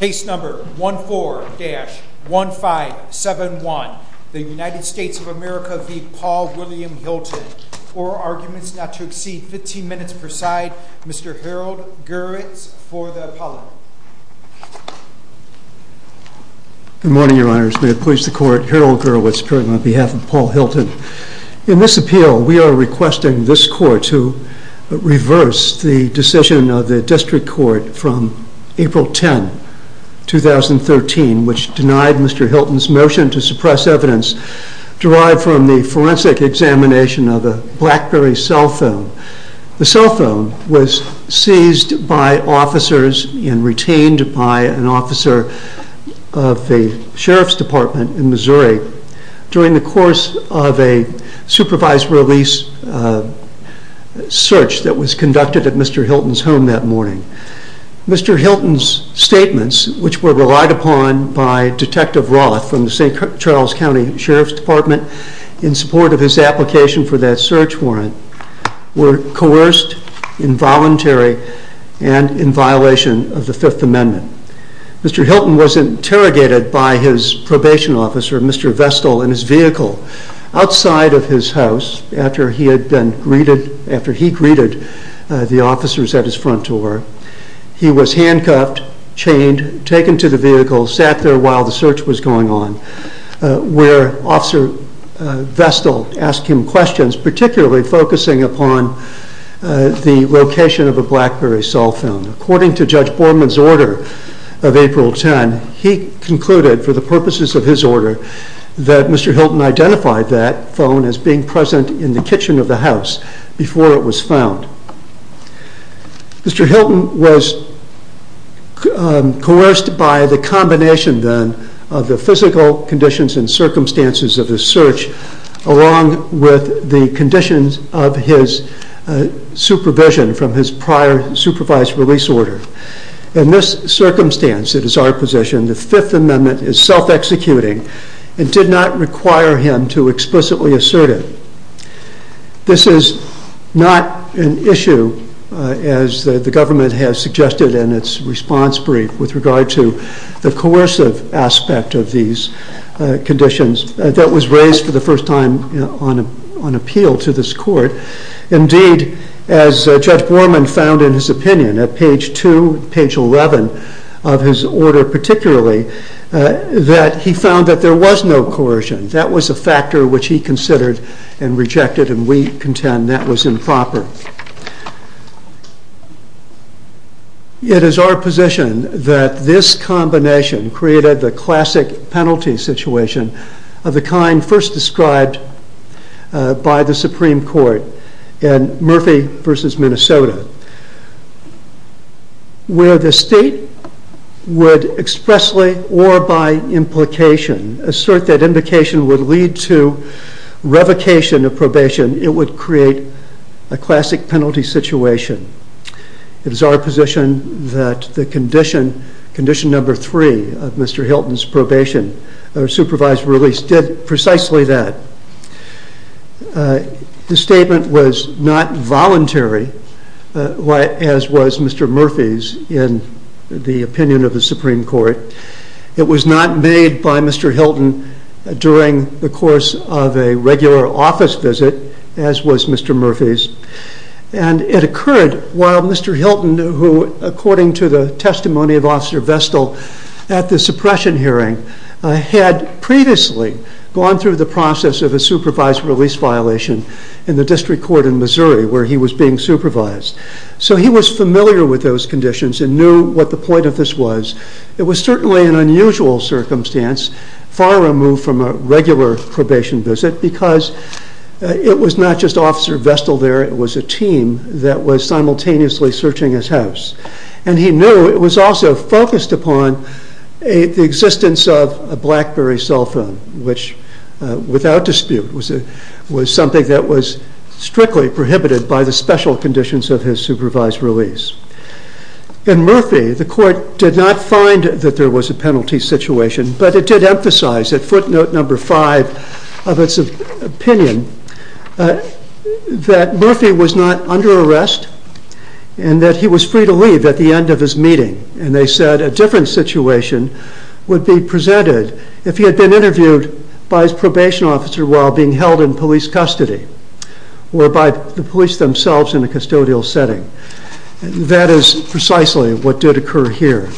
Case number 14-1571, the United States of America v. Paul William Hilton. Four arguments not to exceed 15 minutes per side. Mr. Harold Gurwitz for the Apollo. Good morning, Your Honors. May it please the Court. Harold Gurwitz, appearing on behalf of Paul Hilton. In this appeal, we are requesting this Court to reverse the decision of the District Court from April 10, 2013, which denied Mr. Hilton's motion to suppress evidence derived from the forensic examination of a BlackBerry cell phone. The cell phone was seized by officers and retained by an officer of the Sheriff's Department in Missouri during the course of a supervised release search that was conducted at Mr. Hilton's home that morning. Mr. Hilton's statements, which were relied upon by Detective Roth from the St. Charles County Sheriff's Department in support of his application for that search warrant, were coerced, involuntary, and in violation of the Fifth Amendment. Mr. Hilton was interrogated by his probation officer, Mr. Vestal, in his vehicle outside of his house after he greeted the officers at his front door. He was handcuffed, chained, taken to the vehicle, sat there while the search was going on, where Officer Vestal asked him questions, particularly focusing upon the location of a BlackBerry cell phone. According to Judge Borman's order of April 10, he concluded, for the purposes of his order, that Mr. Hilton identified that phone as being present in the kitchen of the house before it was found. Mr. Hilton was coerced by the combination, then, of the physical conditions and circumstances of the search along with the conditions of his supervision from his prior supervised release order. In this circumstance, it is our position that the Fifth Amendment is self-executing and did not require him to explicitly assert it. This is not an issue, as the government has suggested in its response brief, with regard to the coercive aspect of these conditions that was raised for the first time on appeal to this court. Indeed, as Judge Borman found in his opinion at page 2, page 11 of his order particularly, that he found that there was no coercion. That was a factor which he considered and rejected, and we contend that was improper. It is our position that this combination created the classic penalty situation of the kind first described by the Supreme Court in Murphy v. Minnesota, where the state would expressly or by implication assert that implication would lead to revocation of probation. It would create a classic penalty situation. It is our position that the condition, Condition No. 3 of Mr. Hilton's probation or supervised release did precisely that. This statement was not voluntary, as was Mr. Murphy's in the opinion of the Supreme Court. It was not made by Mr. Hilton during the course of a regular office visit, as was Mr. Murphy's. It occurred while Mr. Hilton, who according to the testimony of Officer Vestal at the suppression hearing, had previously gone through the process of a supervised release violation in the District Court in Missouri, where he was being supervised. So he was familiar with those conditions and knew what the point of this was. It was certainly an unusual circumstance, far removed from a regular probation visit, because it was not just Officer Vestal there, it was a team that was simultaneously searching his house. And he knew it was also focused upon the existence of a BlackBerry cell phone, which without dispute was something that was strictly prohibited by the special conditions of his supervised release. In Murphy, the Court did not find that there was a penalty situation, but it did emphasize at footnote No. 5 of its opinion that Murphy was not under arrest and that he was free to leave at the end of his meeting. And they said a different situation would be presented if he had been interviewed by his probation officer while being held in police custody, or by the police themselves in a custodial setting. That is precisely what did occur here.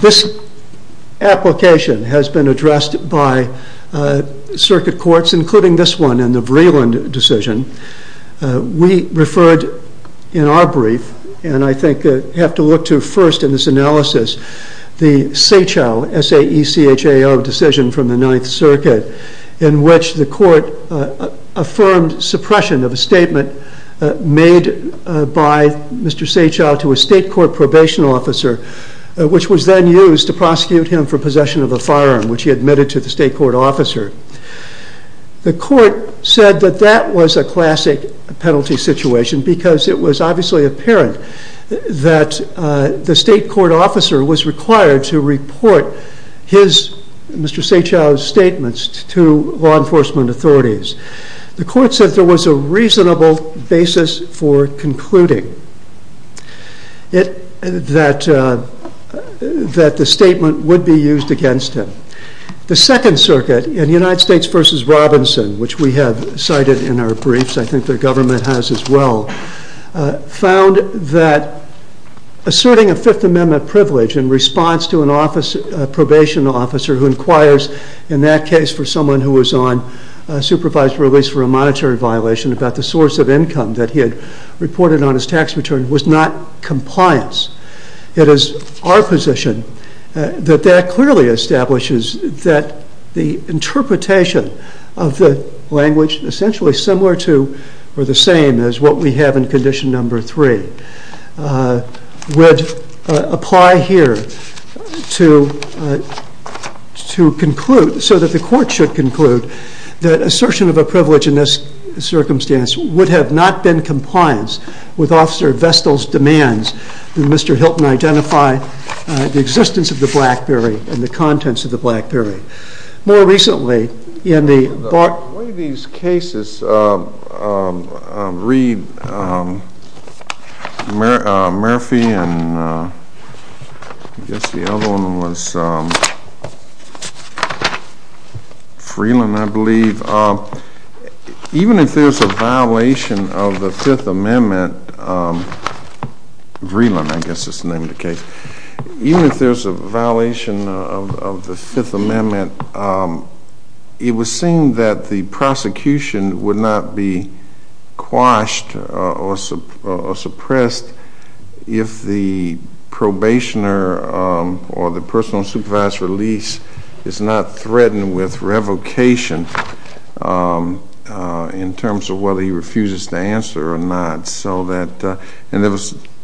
This application has been addressed by circuit courts, including this one in the Vreeland decision. We referred in our brief, and I think you have to look to first in this analysis, the Sechau, S-A-E-C-H-A-U decision from the Ninth Circuit, in which the Court affirmed suppression of a statement made by Mr. Sechau to a state court probation officer, which was then used to prosecute him for possession of a firearm, which he admitted to the state court officer. The Court said that that was a classic penalty situation, because it was obviously apparent that the state court officer was required to report Mr. Sechau's statements to law enforcement authorities. The Court said there was a reasonable basis for concluding that the statement would be used against him. The Second Circuit, in United States v. Robinson, which we have cited in our briefs, I think the government has as well, found that asserting a Fifth Amendment privilege in response to a probation officer who inquires in that case for someone who was on supervised release for a monetary violation about the source of income that he had reported on his tax return was not compliance. It is our position that that clearly establishes that the interpretation of the language, essentially similar to or the same as what we have in Condition No. 3, would apply here so that the Court should conclude that assertion of a privilege in this circumstance would have not been compliance with Officer Vestal's demands that Mr. Hilton identify the existence of the Blackberry and the contents of the Blackberry. More recently, in the Bar— One of these cases, Reed, Murphy, and I guess the other one was Freeland, I believe. Even if there's a violation of the Fifth Amendment—Freeland, I guess is the name of the case— even if there's a violation of the Fifth Amendment, it was seen that the prosecution would not be quashed or suppressed if the probationer or the person on supervised release is not threatened with revocation in terms of whether he refuses to answer or not. And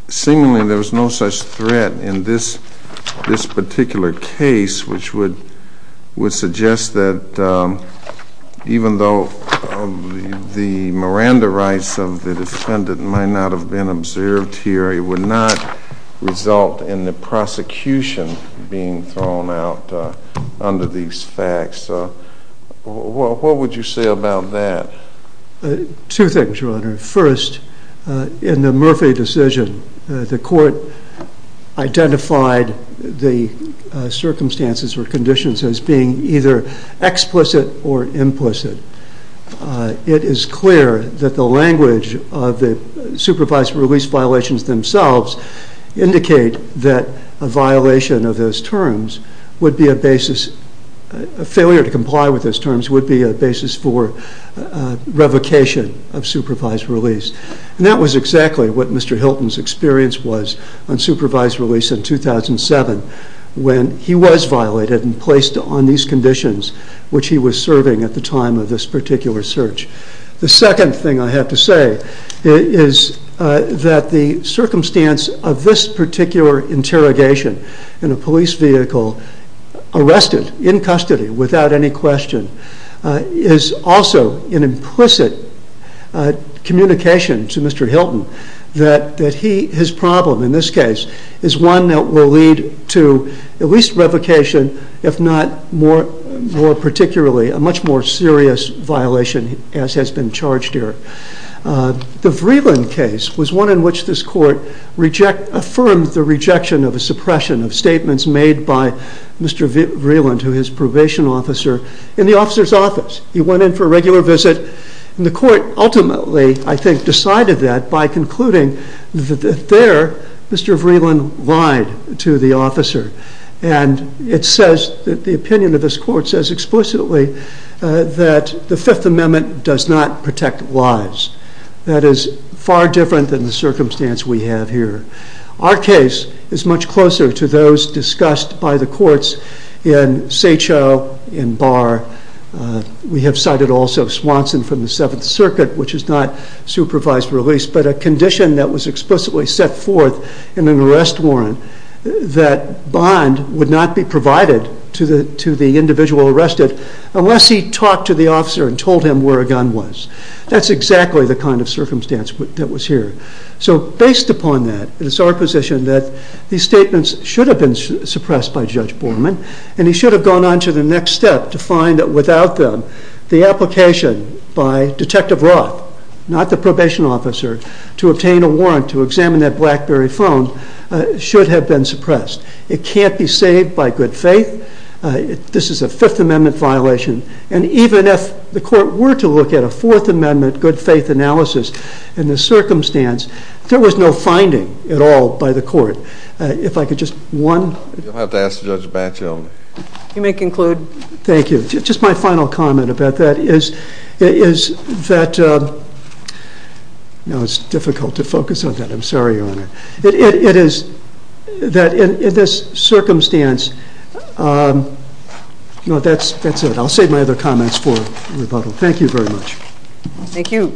seemingly there was no such threat in this particular case, which would suggest that even though the Miranda rights of the defendant might not have been observed here, it would not result in the prosecution being thrown out under these facts. What would you say about that? Two things, Your Honor. First, in the Murphy decision, the court identified the circumstances or conditions as being either explicit or implicit. It is clear that the language of the supervised release violations themselves indicate that a violation of those terms would be a basis— a revocation of supervised release. And that was exactly what Mr. Hilton's experience was on supervised release in 2007 when he was violated and placed on these conditions which he was serving at the time of this particular search. The second thing I have to say is that the circumstance of this particular interrogation in a police vehicle arrested in custody without any question is also an implicit communication to Mr. Hilton that his problem in this case is one that will lead to at least revocation, if not more particularly a much more serious violation as has been charged here. The Vreeland case was one in which this court affirmed the rejection of a suppression of statements made by Mr. Vreeland to his probation officer in the officer's office. He went in for a regular visit and the court ultimately, I think, decided that by concluding that there Mr. Vreeland lied to the officer. And the opinion of this court says explicitly that the Fifth Amendment does not protect lives. That is far different than the circumstance we have here. Our case is much closer to those discussed by the courts in Satcho, in Barr. We have cited also Swanson from the Seventh Circuit which is not supervised release, but a condition that was explicitly set forth in an arrest warrant that bond would not be provided to the individual arrested unless he talked to the officer and told him where a gun was. That's exactly the kind of circumstance that was here. So based upon that, it's our position that these statements should have been suppressed by Judge Borman and he should have gone on to the next step to find that without them, the application by Detective Roth, not the probation officer, to obtain a warrant to examine that BlackBerry phone should have been suppressed. It can't be saved by good faith. This is a Fifth Amendment violation. And even if the court were to look at a Fourth Amendment good faith analysis in this circumstance, there was no finding at all by the court. If I could just one... You'll have to ask Judge Batchel. You may conclude. Thank you. Just my final comment about that is that... It's difficult to focus on that. I'm sorry, Your Honor. It is that in this circumstance... That's it. I'll save my other comments for rebuttal. Thank you very much. Thank you.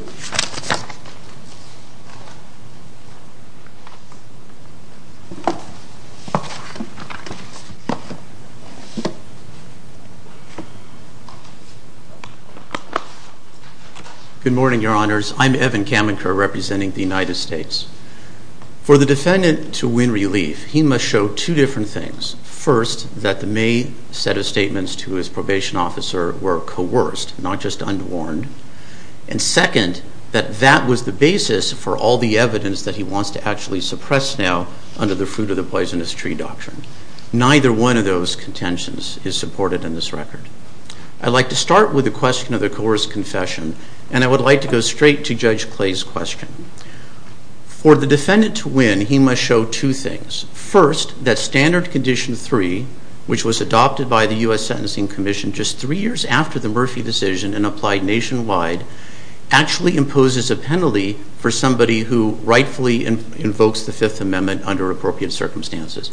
Good morning, Your Honors. I'm Evan Kamenker representing the United States. For the defendant to win relief, he must show two different things. First, that the main set of statements to his probation officer were coerced, not just unwarned. And second, that that was the basis for all the evidence that he wants to actually suppress now under the fruit of the poisonous tree doctrine. Neither one of those contentions is supported in this record. I'd like to start with the question of the coerced confession, and I would like to go straight to Judge Clay's question. For the defendant to win, he must show two things. First, that Standard Condition 3, which was adopted by the U.S. Sentencing Commission just three years after the Murphy decision and applied nationwide, actually imposes a penalty for somebody who rightfully invokes the Fifth Amendment under appropriate circumstances.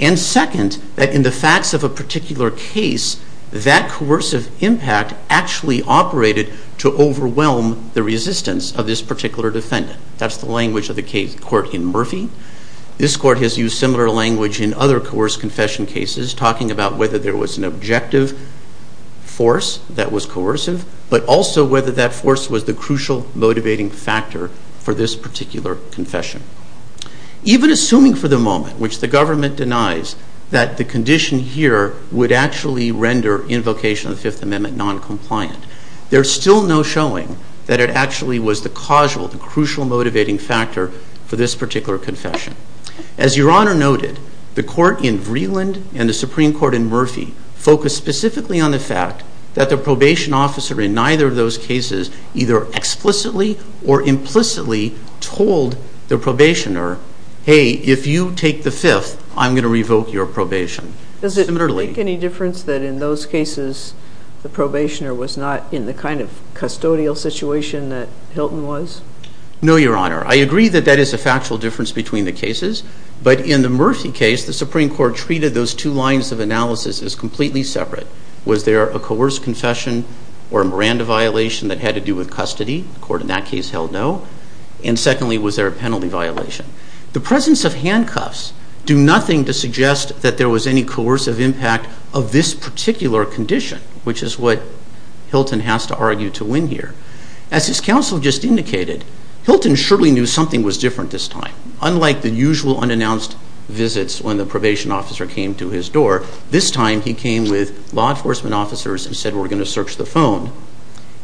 And second, that in the facts of a particular case, that coercive impact actually operated to overwhelm the resistance of this particular defendant. That's the language of the court in Murphy. This court has used similar language in other coerced confession cases, talking about whether there was an objective force that was coercive, but also whether that force was the crucial motivating factor for this particular confession. Even assuming for the moment, which the government denies, that the condition here would actually render invocation of the Fifth Amendment noncompliant, there's still no showing that it actually was the causal, the crucial motivating factor for this particular confession. As Your Honor noted, the court in Vreeland and the Supreme Court in Murphy focused specifically on the fact that the probation officer in neither of those cases either explicitly or implicitly told the probationer, hey, if you take the Fifth, I'm going to revoke your probation. Does it make any difference that in those cases, the probationer was not in the kind of custodial situation that Hilton was? No, Your Honor. I agree that that is a factual difference between the cases, but in the Murphy case, the Supreme Court treated those two lines of analysis as completely separate. Was there a coerced confession or a Miranda violation that had to do with custody? The court in that case held no. And secondly, was there a penalty violation? The presence of handcuffs do nothing to suggest that there was any coercive impact of this particular condition, which is what Hilton has to argue to win here. As his counsel just indicated, Hilton surely knew something was different this time. Unlike the usual unannounced visits when the probation officer came to his door, this time he came with law enforcement officers and said, we're going to search the phone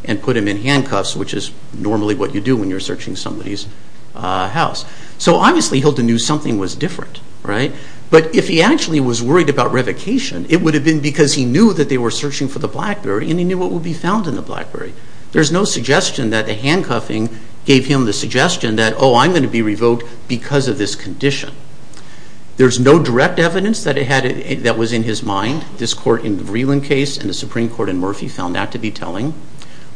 and put him in handcuffs, which is normally what you do when you're searching somebody's house. So obviously Hilton knew something was different, right? But if he actually was worried about revocation, it would have been because he knew that they were searching for the BlackBerry and he knew what would be found in the BlackBerry. There's no suggestion that the handcuffing gave him the suggestion that, oh, I'm going to be revoked because of this condition. There's no direct evidence that was in his mind. This court in the Vreeland case and the Supreme Court in Murphy found that to be telling.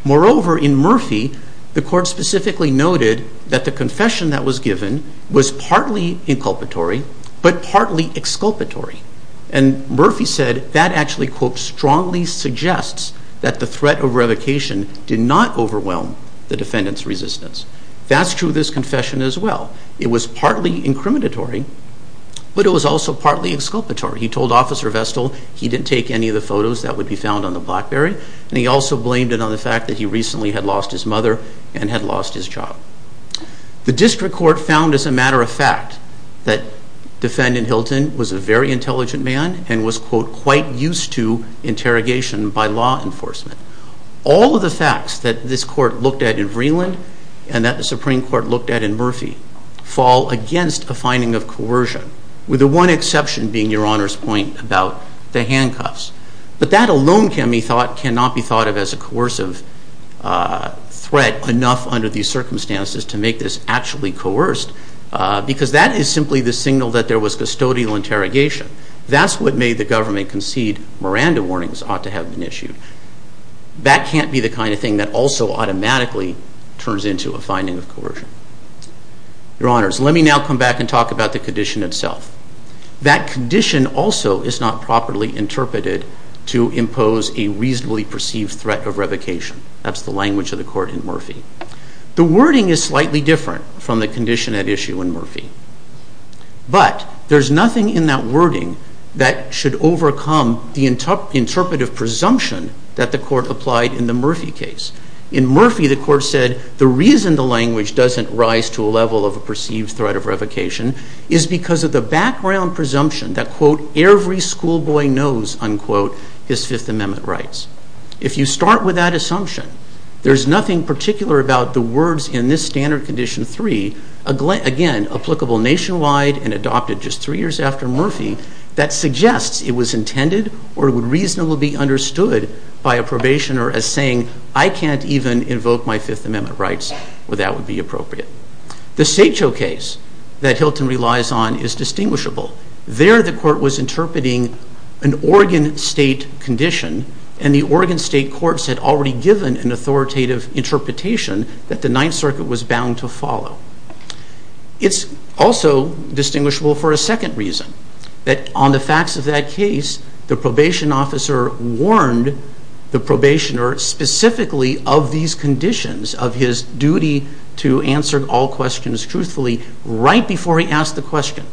Moreover, in Murphy, the court specifically noted that the confession that was given was partly inculpatory but partly exculpatory. And Murphy said that actually, quote, strongly suggests that the threat of revocation did not overwhelm the defendant's resistance. That's true of this confession as well. It was partly incriminatory, but it was also partly exculpatory. He told Officer Vestal he didn't take any of the photos that would be found on the BlackBerry and he also blamed it on the fact that he recently had lost his mother and had lost his child. The district court found as a matter of fact that defendant Hilton was a very intelligent man and was, quote, quite used to interrogation by law enforcement. and that the Supreme Court looked at in Murphy fall against a finding of coercion with the one exception being Your Honor's point about the handcuffs. But that alone cannot be thought of as a coercive threat enough under these circumstances to make this actually coerced because that is simply the signal that there was custodial interrogation. That's what made the government concede Miranda warnings ought to have been issued. That can't be the kind of thing that also automatically turns into a finding of coercion. Your Honors, let me now come back and talk about the condition itself. That condition also is not properly interpreted to impose a reasonably perceived threat of revocation. That's the language of the court in Murphy. The wording is slightly different from the condition at issue in Murphy, but there's nothing in that wording that should overcome the interpretive presumption that the court applied in the Murphy case. In Murphy, the court said the reason the language doesn't rise to a level of a perceived threat of revocation is because of the background presumption that, quote, every schoolboy knows, unquote, his Fifth Amendment rights. If you start with that assumption, there's nothing particular about the words in this standard condition three, again, applicable nationwide and adopted just three years after Murphy, that suggests it was intended or would reasonably be understood by a probationer as saying, I can't even invoke my Fifth Amendment rights where that would be appropriate. The Satcho case that Hilton relies on is distinguishable. There, the court was interpreting an Oregon State condition, and the Oregon State courts had already given an authoritative interpretation that the Ninth Circuit was bound to follow. It's also distinguishable for a second reason, that on the facts of that case, the probation officer warned the probationer specifically of these conditions, of his duty to answer all questions truthfully, right before he asked the question.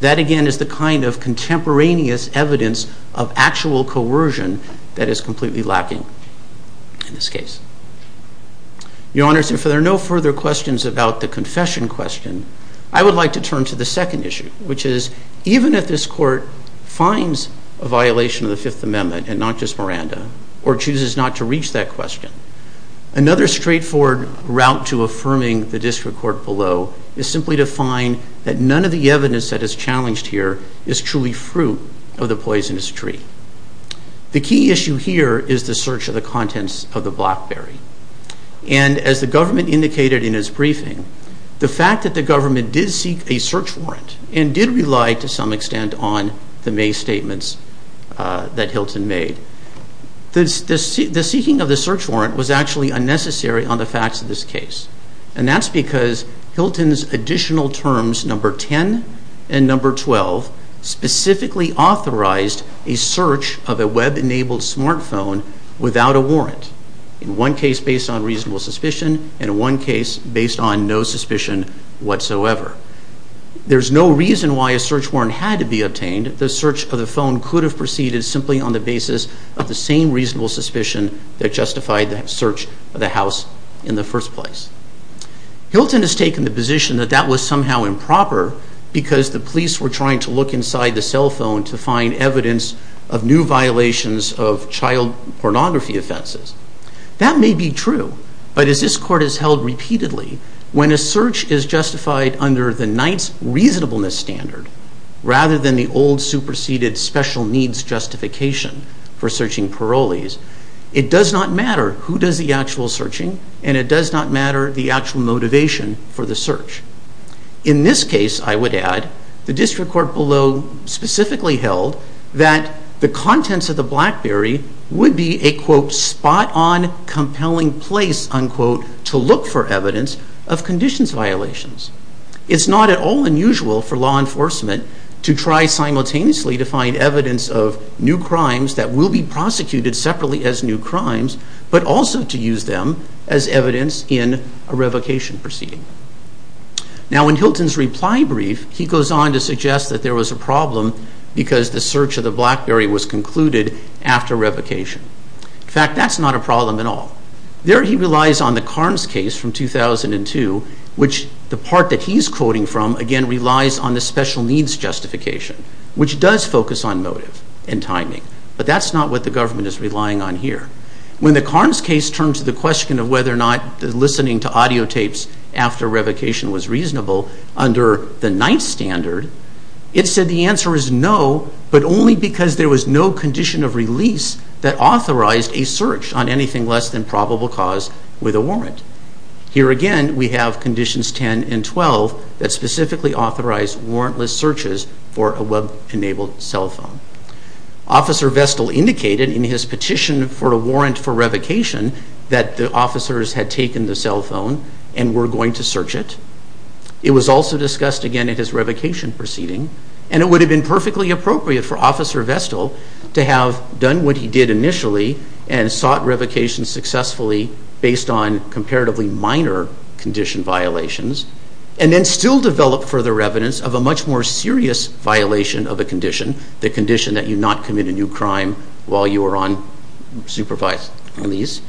That, again, is the kind of contemporaneous evidence of actual coercion that is completely lacking in this case. Your Honors, if there are no further questions about the confession question, I would like to turn to the second issue, which is even if this court finds a violation of the Fifth Amendment, and not just Miranda, or chooses not to reach that question, another straightforward route to affirming the district court below is simply to find that none of the evidence that is challenged here is truly fruit of the poisonous tree. The key issue here is the search of the contents of the BlackBerry. And as the government indicated in its briefing, the fact that the government did seek a search warrant, and did rely to some extent on the May statements that Hilton made, the seeking of the search warrant was actually unnecessary on the facts of this case. And that's because Hilton's additional terms number 10 and number 12 specifically authorized a search of a web-enabled smartphone without a warrant, in one case based on reasonable suspicion, and in one case based on no suspicion whatsoever. There's no reason why a search warrant had to be obtained. The search of the phone could have proceeded simply on the basis of the same reasonable suspicion that justified the search of the house in the first place. Hilton has taken the position that that was somehow improper because the police were trying to look inside the cell phone to find evidence of new violations of child pornography offenses. That may be true, but as this court has held repeatedly, when a search is justified under the Knight's reasonableness standard, rather than the old superseded special needs justification for searching parolees, it does not matter who does the actual searching, and it does not matter the actual motivation for the search. In this case, I would add, the district court below specifically held that the contents of the BlackBerry would be a, quote, spot-on compelling place, unquote, to look for evidence of conditions violations. It's not at all unusual for law enforcement to try simultaneously to find evidence of new crimes that will be prosecuted separately as new crimes, but also to use them as evidence in a revocation proceeding. Now, in Hilton's reply brief, he goes on to suggest that there was a problem because the search of the BlackBerry was concluded after revocation. In fact, that's not a problem at all. There, he relies on the Carnes case from 2002, which the part that he's quoting from, again, relies on the special needs justification, which does focus on motive and timing, but that's not what the government is relying on here. When the Carnes case turned to the question of whether or not listening to audio tapes after revocation was reasonable under the ninth standard, it said the answer is no, but only because there was no condition of release that authorized a search on anything less than probable cause with a warrant. Here again, we have conditions 10 and 12 that specifically authorize warrantless searches for a web-enabled cell phone. Officer Vestal indicated in his petition for a warrant for revocation that the officers had taken the cell phone and were going to search it. It was also discussed, again, in his revocation proceeding, and it would have been perfectly appropriate for Officer Vestal to have done what he did initially and sought revocation successfully based on comparatively minor condition violations and then still develop further evidence of a much more serious violation of a condition, the condition that you not commit a new crime while you are on supervised release,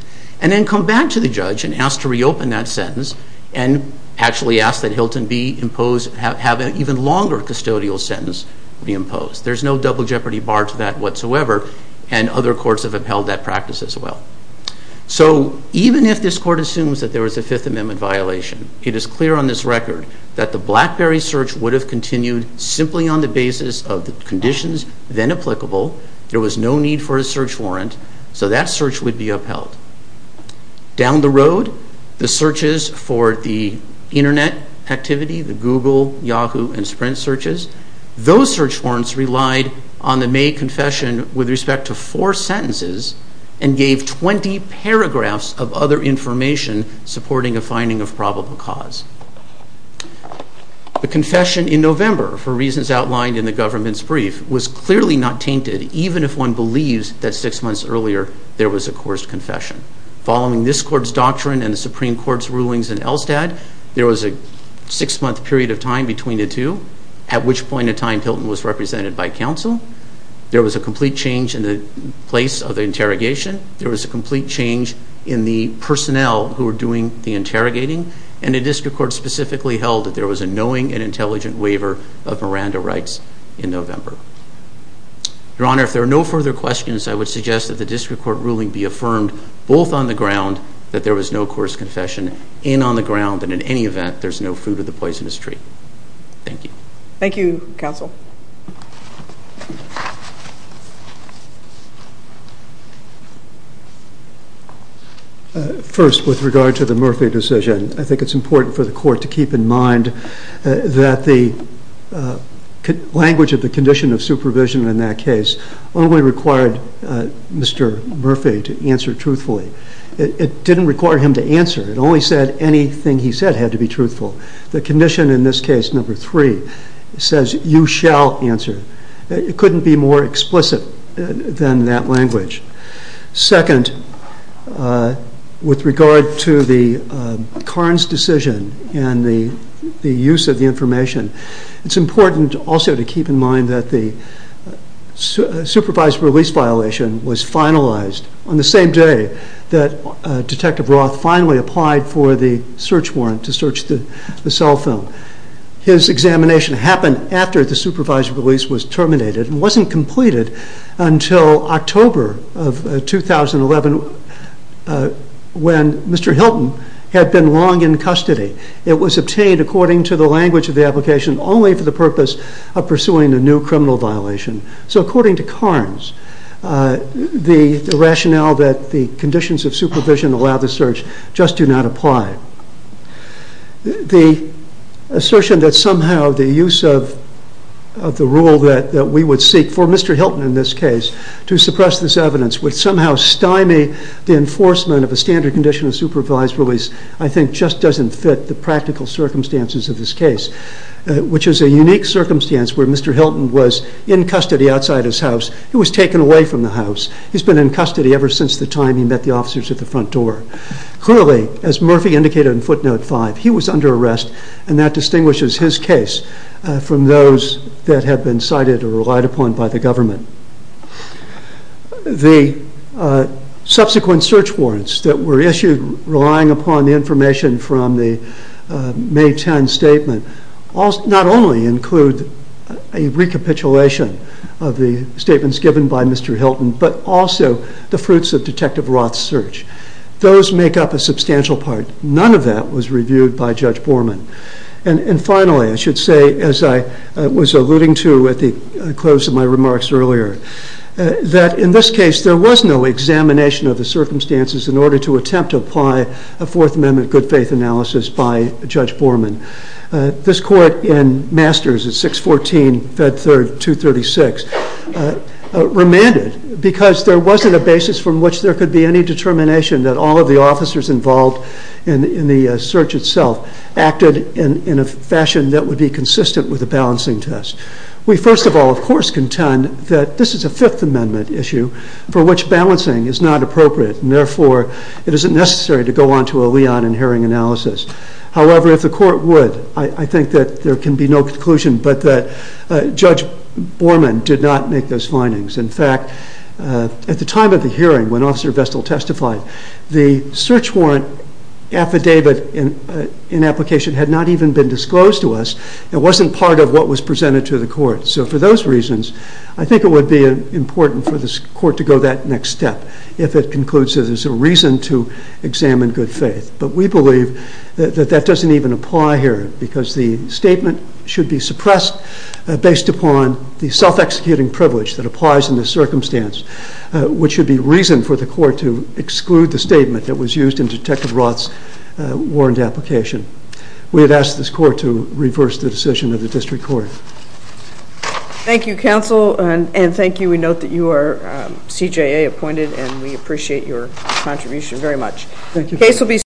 and then come back to the judge and ask to reopen that sentence and actually ask that Hilton be imposed, have an even longer custodial sentence reimposed. There's no double jeopardy bar to that whatsoever, and other courts have upheld that practice as well. So even if this court assumes that there was a Fifth Amendment violation, it is clear on this record that the BlackBerry search would have continued simply on the basis of the conditions then applicable. There was no need for a search warrant, so that search would be upheld. Down the road, the searches for the Internet activity, the Google, Yahoo, and Sprint searches, those search warrants relied on the May confession with respect to four sentences and gave 20 paragraphs of other information supporting a finding of probable cause. The confession in November, for reasons outlined in the government's brief, was clearly not tainted, even if one believes that six months earlier there was a coerced confession. Following this court's doctrine and the Supreme Court's rulings in Elstad, there was a six-month period of time between the two, at which point in time Hilton was represented by counsel. There was a complete change in the place of the interrogation. There was a complete change in the personnel who were doing the interrogating, and a district court specifically held that there was a knowing and intelligent waiver of Miranda rights in November. Your Honor, if there are no further questions, I would suggest that the district court ruling be affirmed, both on the ground that there was no coerced confession, and on the ground that in any event there is no fruit of the poisonous tree. Thank you. Thank you, counsel. First, with regard to the Murphy decision, I think it's important for the court to keep in mind that the language of the condition of supervision in that case only required Mr. Murphy to answer truthfully. It didn't require him to answer. It only said anything he said had to be truthful. The condition in this case, number three, says you shall answer. It couldn't be more explicit than that language. Second, with regard to the Carnes decision and the use of the information, it's important also to keep in mind that the supervised release violation was finalized on the same day that Detective Roth finally applied for the search warrant to search the cell phone. His examination happened after the supervised release was terminated and wasn't completed until October of 2011 when Mr. Hilton had been long in custody. It was obtained according to the language of the application only for the purpose of pursuing a new criminal violation. So according to Carnes, the rationale that the conditions of supervision allow the search just do not apply. The assertion that somehow the use of the rule that we would seek, for Mr. Hilton in this case, to suppress this evidence would somehow stymie the enforcement of a standard condition of supervised release, I think just doesn't fit the practical circumstances of this case, which is a unique circumstance where Mr. Hilton was in custody outside his house. He was taken away from the house. He's been in custody ever since the time he met the officers at the front door. Clearly, as Murphy indicated in footnote 5, he was under arrest and that distinguishes his case from those that have been cited or relied upon by the government. The subsequent search warrants that were issued relying upon the information from the May 10 statement not only include a recapitulation of the statements given by Mr. Hilton, but also the fruits of Detective Roth's search. Those make up a substantial part. None of that was reviewed by Judge Borman. And finally, I should say, as I was alluding to at the close of my remarks earlier, that in this case there was no examination of the circumstances in order to attempt to apply a Fourth Amendment good faith analysis by Judge Borman. This Court in Masters at 614 Fed 3rd 236 remanded because there wasn't a basis from which there could be any determination that all of the officers involved in the search itself acted in a fashion that would be consistent with the balancing test. We, first of all, of course, contend that this is a Fifth Amendment issue for which balancing is not appropriate and therefore it isn't necessary to go on to a Leon and Herring analysis. However, if the Court would, I think that there can be no conclusion but that Judge Borman did not make those findings. In fact, at the time of the hearing when Officer Vestal testified, the search warrant affidavit in application had not even been disclosed to us. It wasn't part of what was presented to the Court. So for those reasons, I think it would be important for this Court to go that next step if it concludes that there's a reason to examine good faith. But we believe that that doesn't even apply here because the statement should be suppressed based upon the self-executing privilege that applies in this circumstance, which should be reason for the Court to exclude the statement that was used in Detective Roth's warrant application. We have asked this Court to reverse the decision of the District Court. Thank you, Counsel, and thank you. We note that you are CJA appointed and we appreciate your contribution very much. Thank you.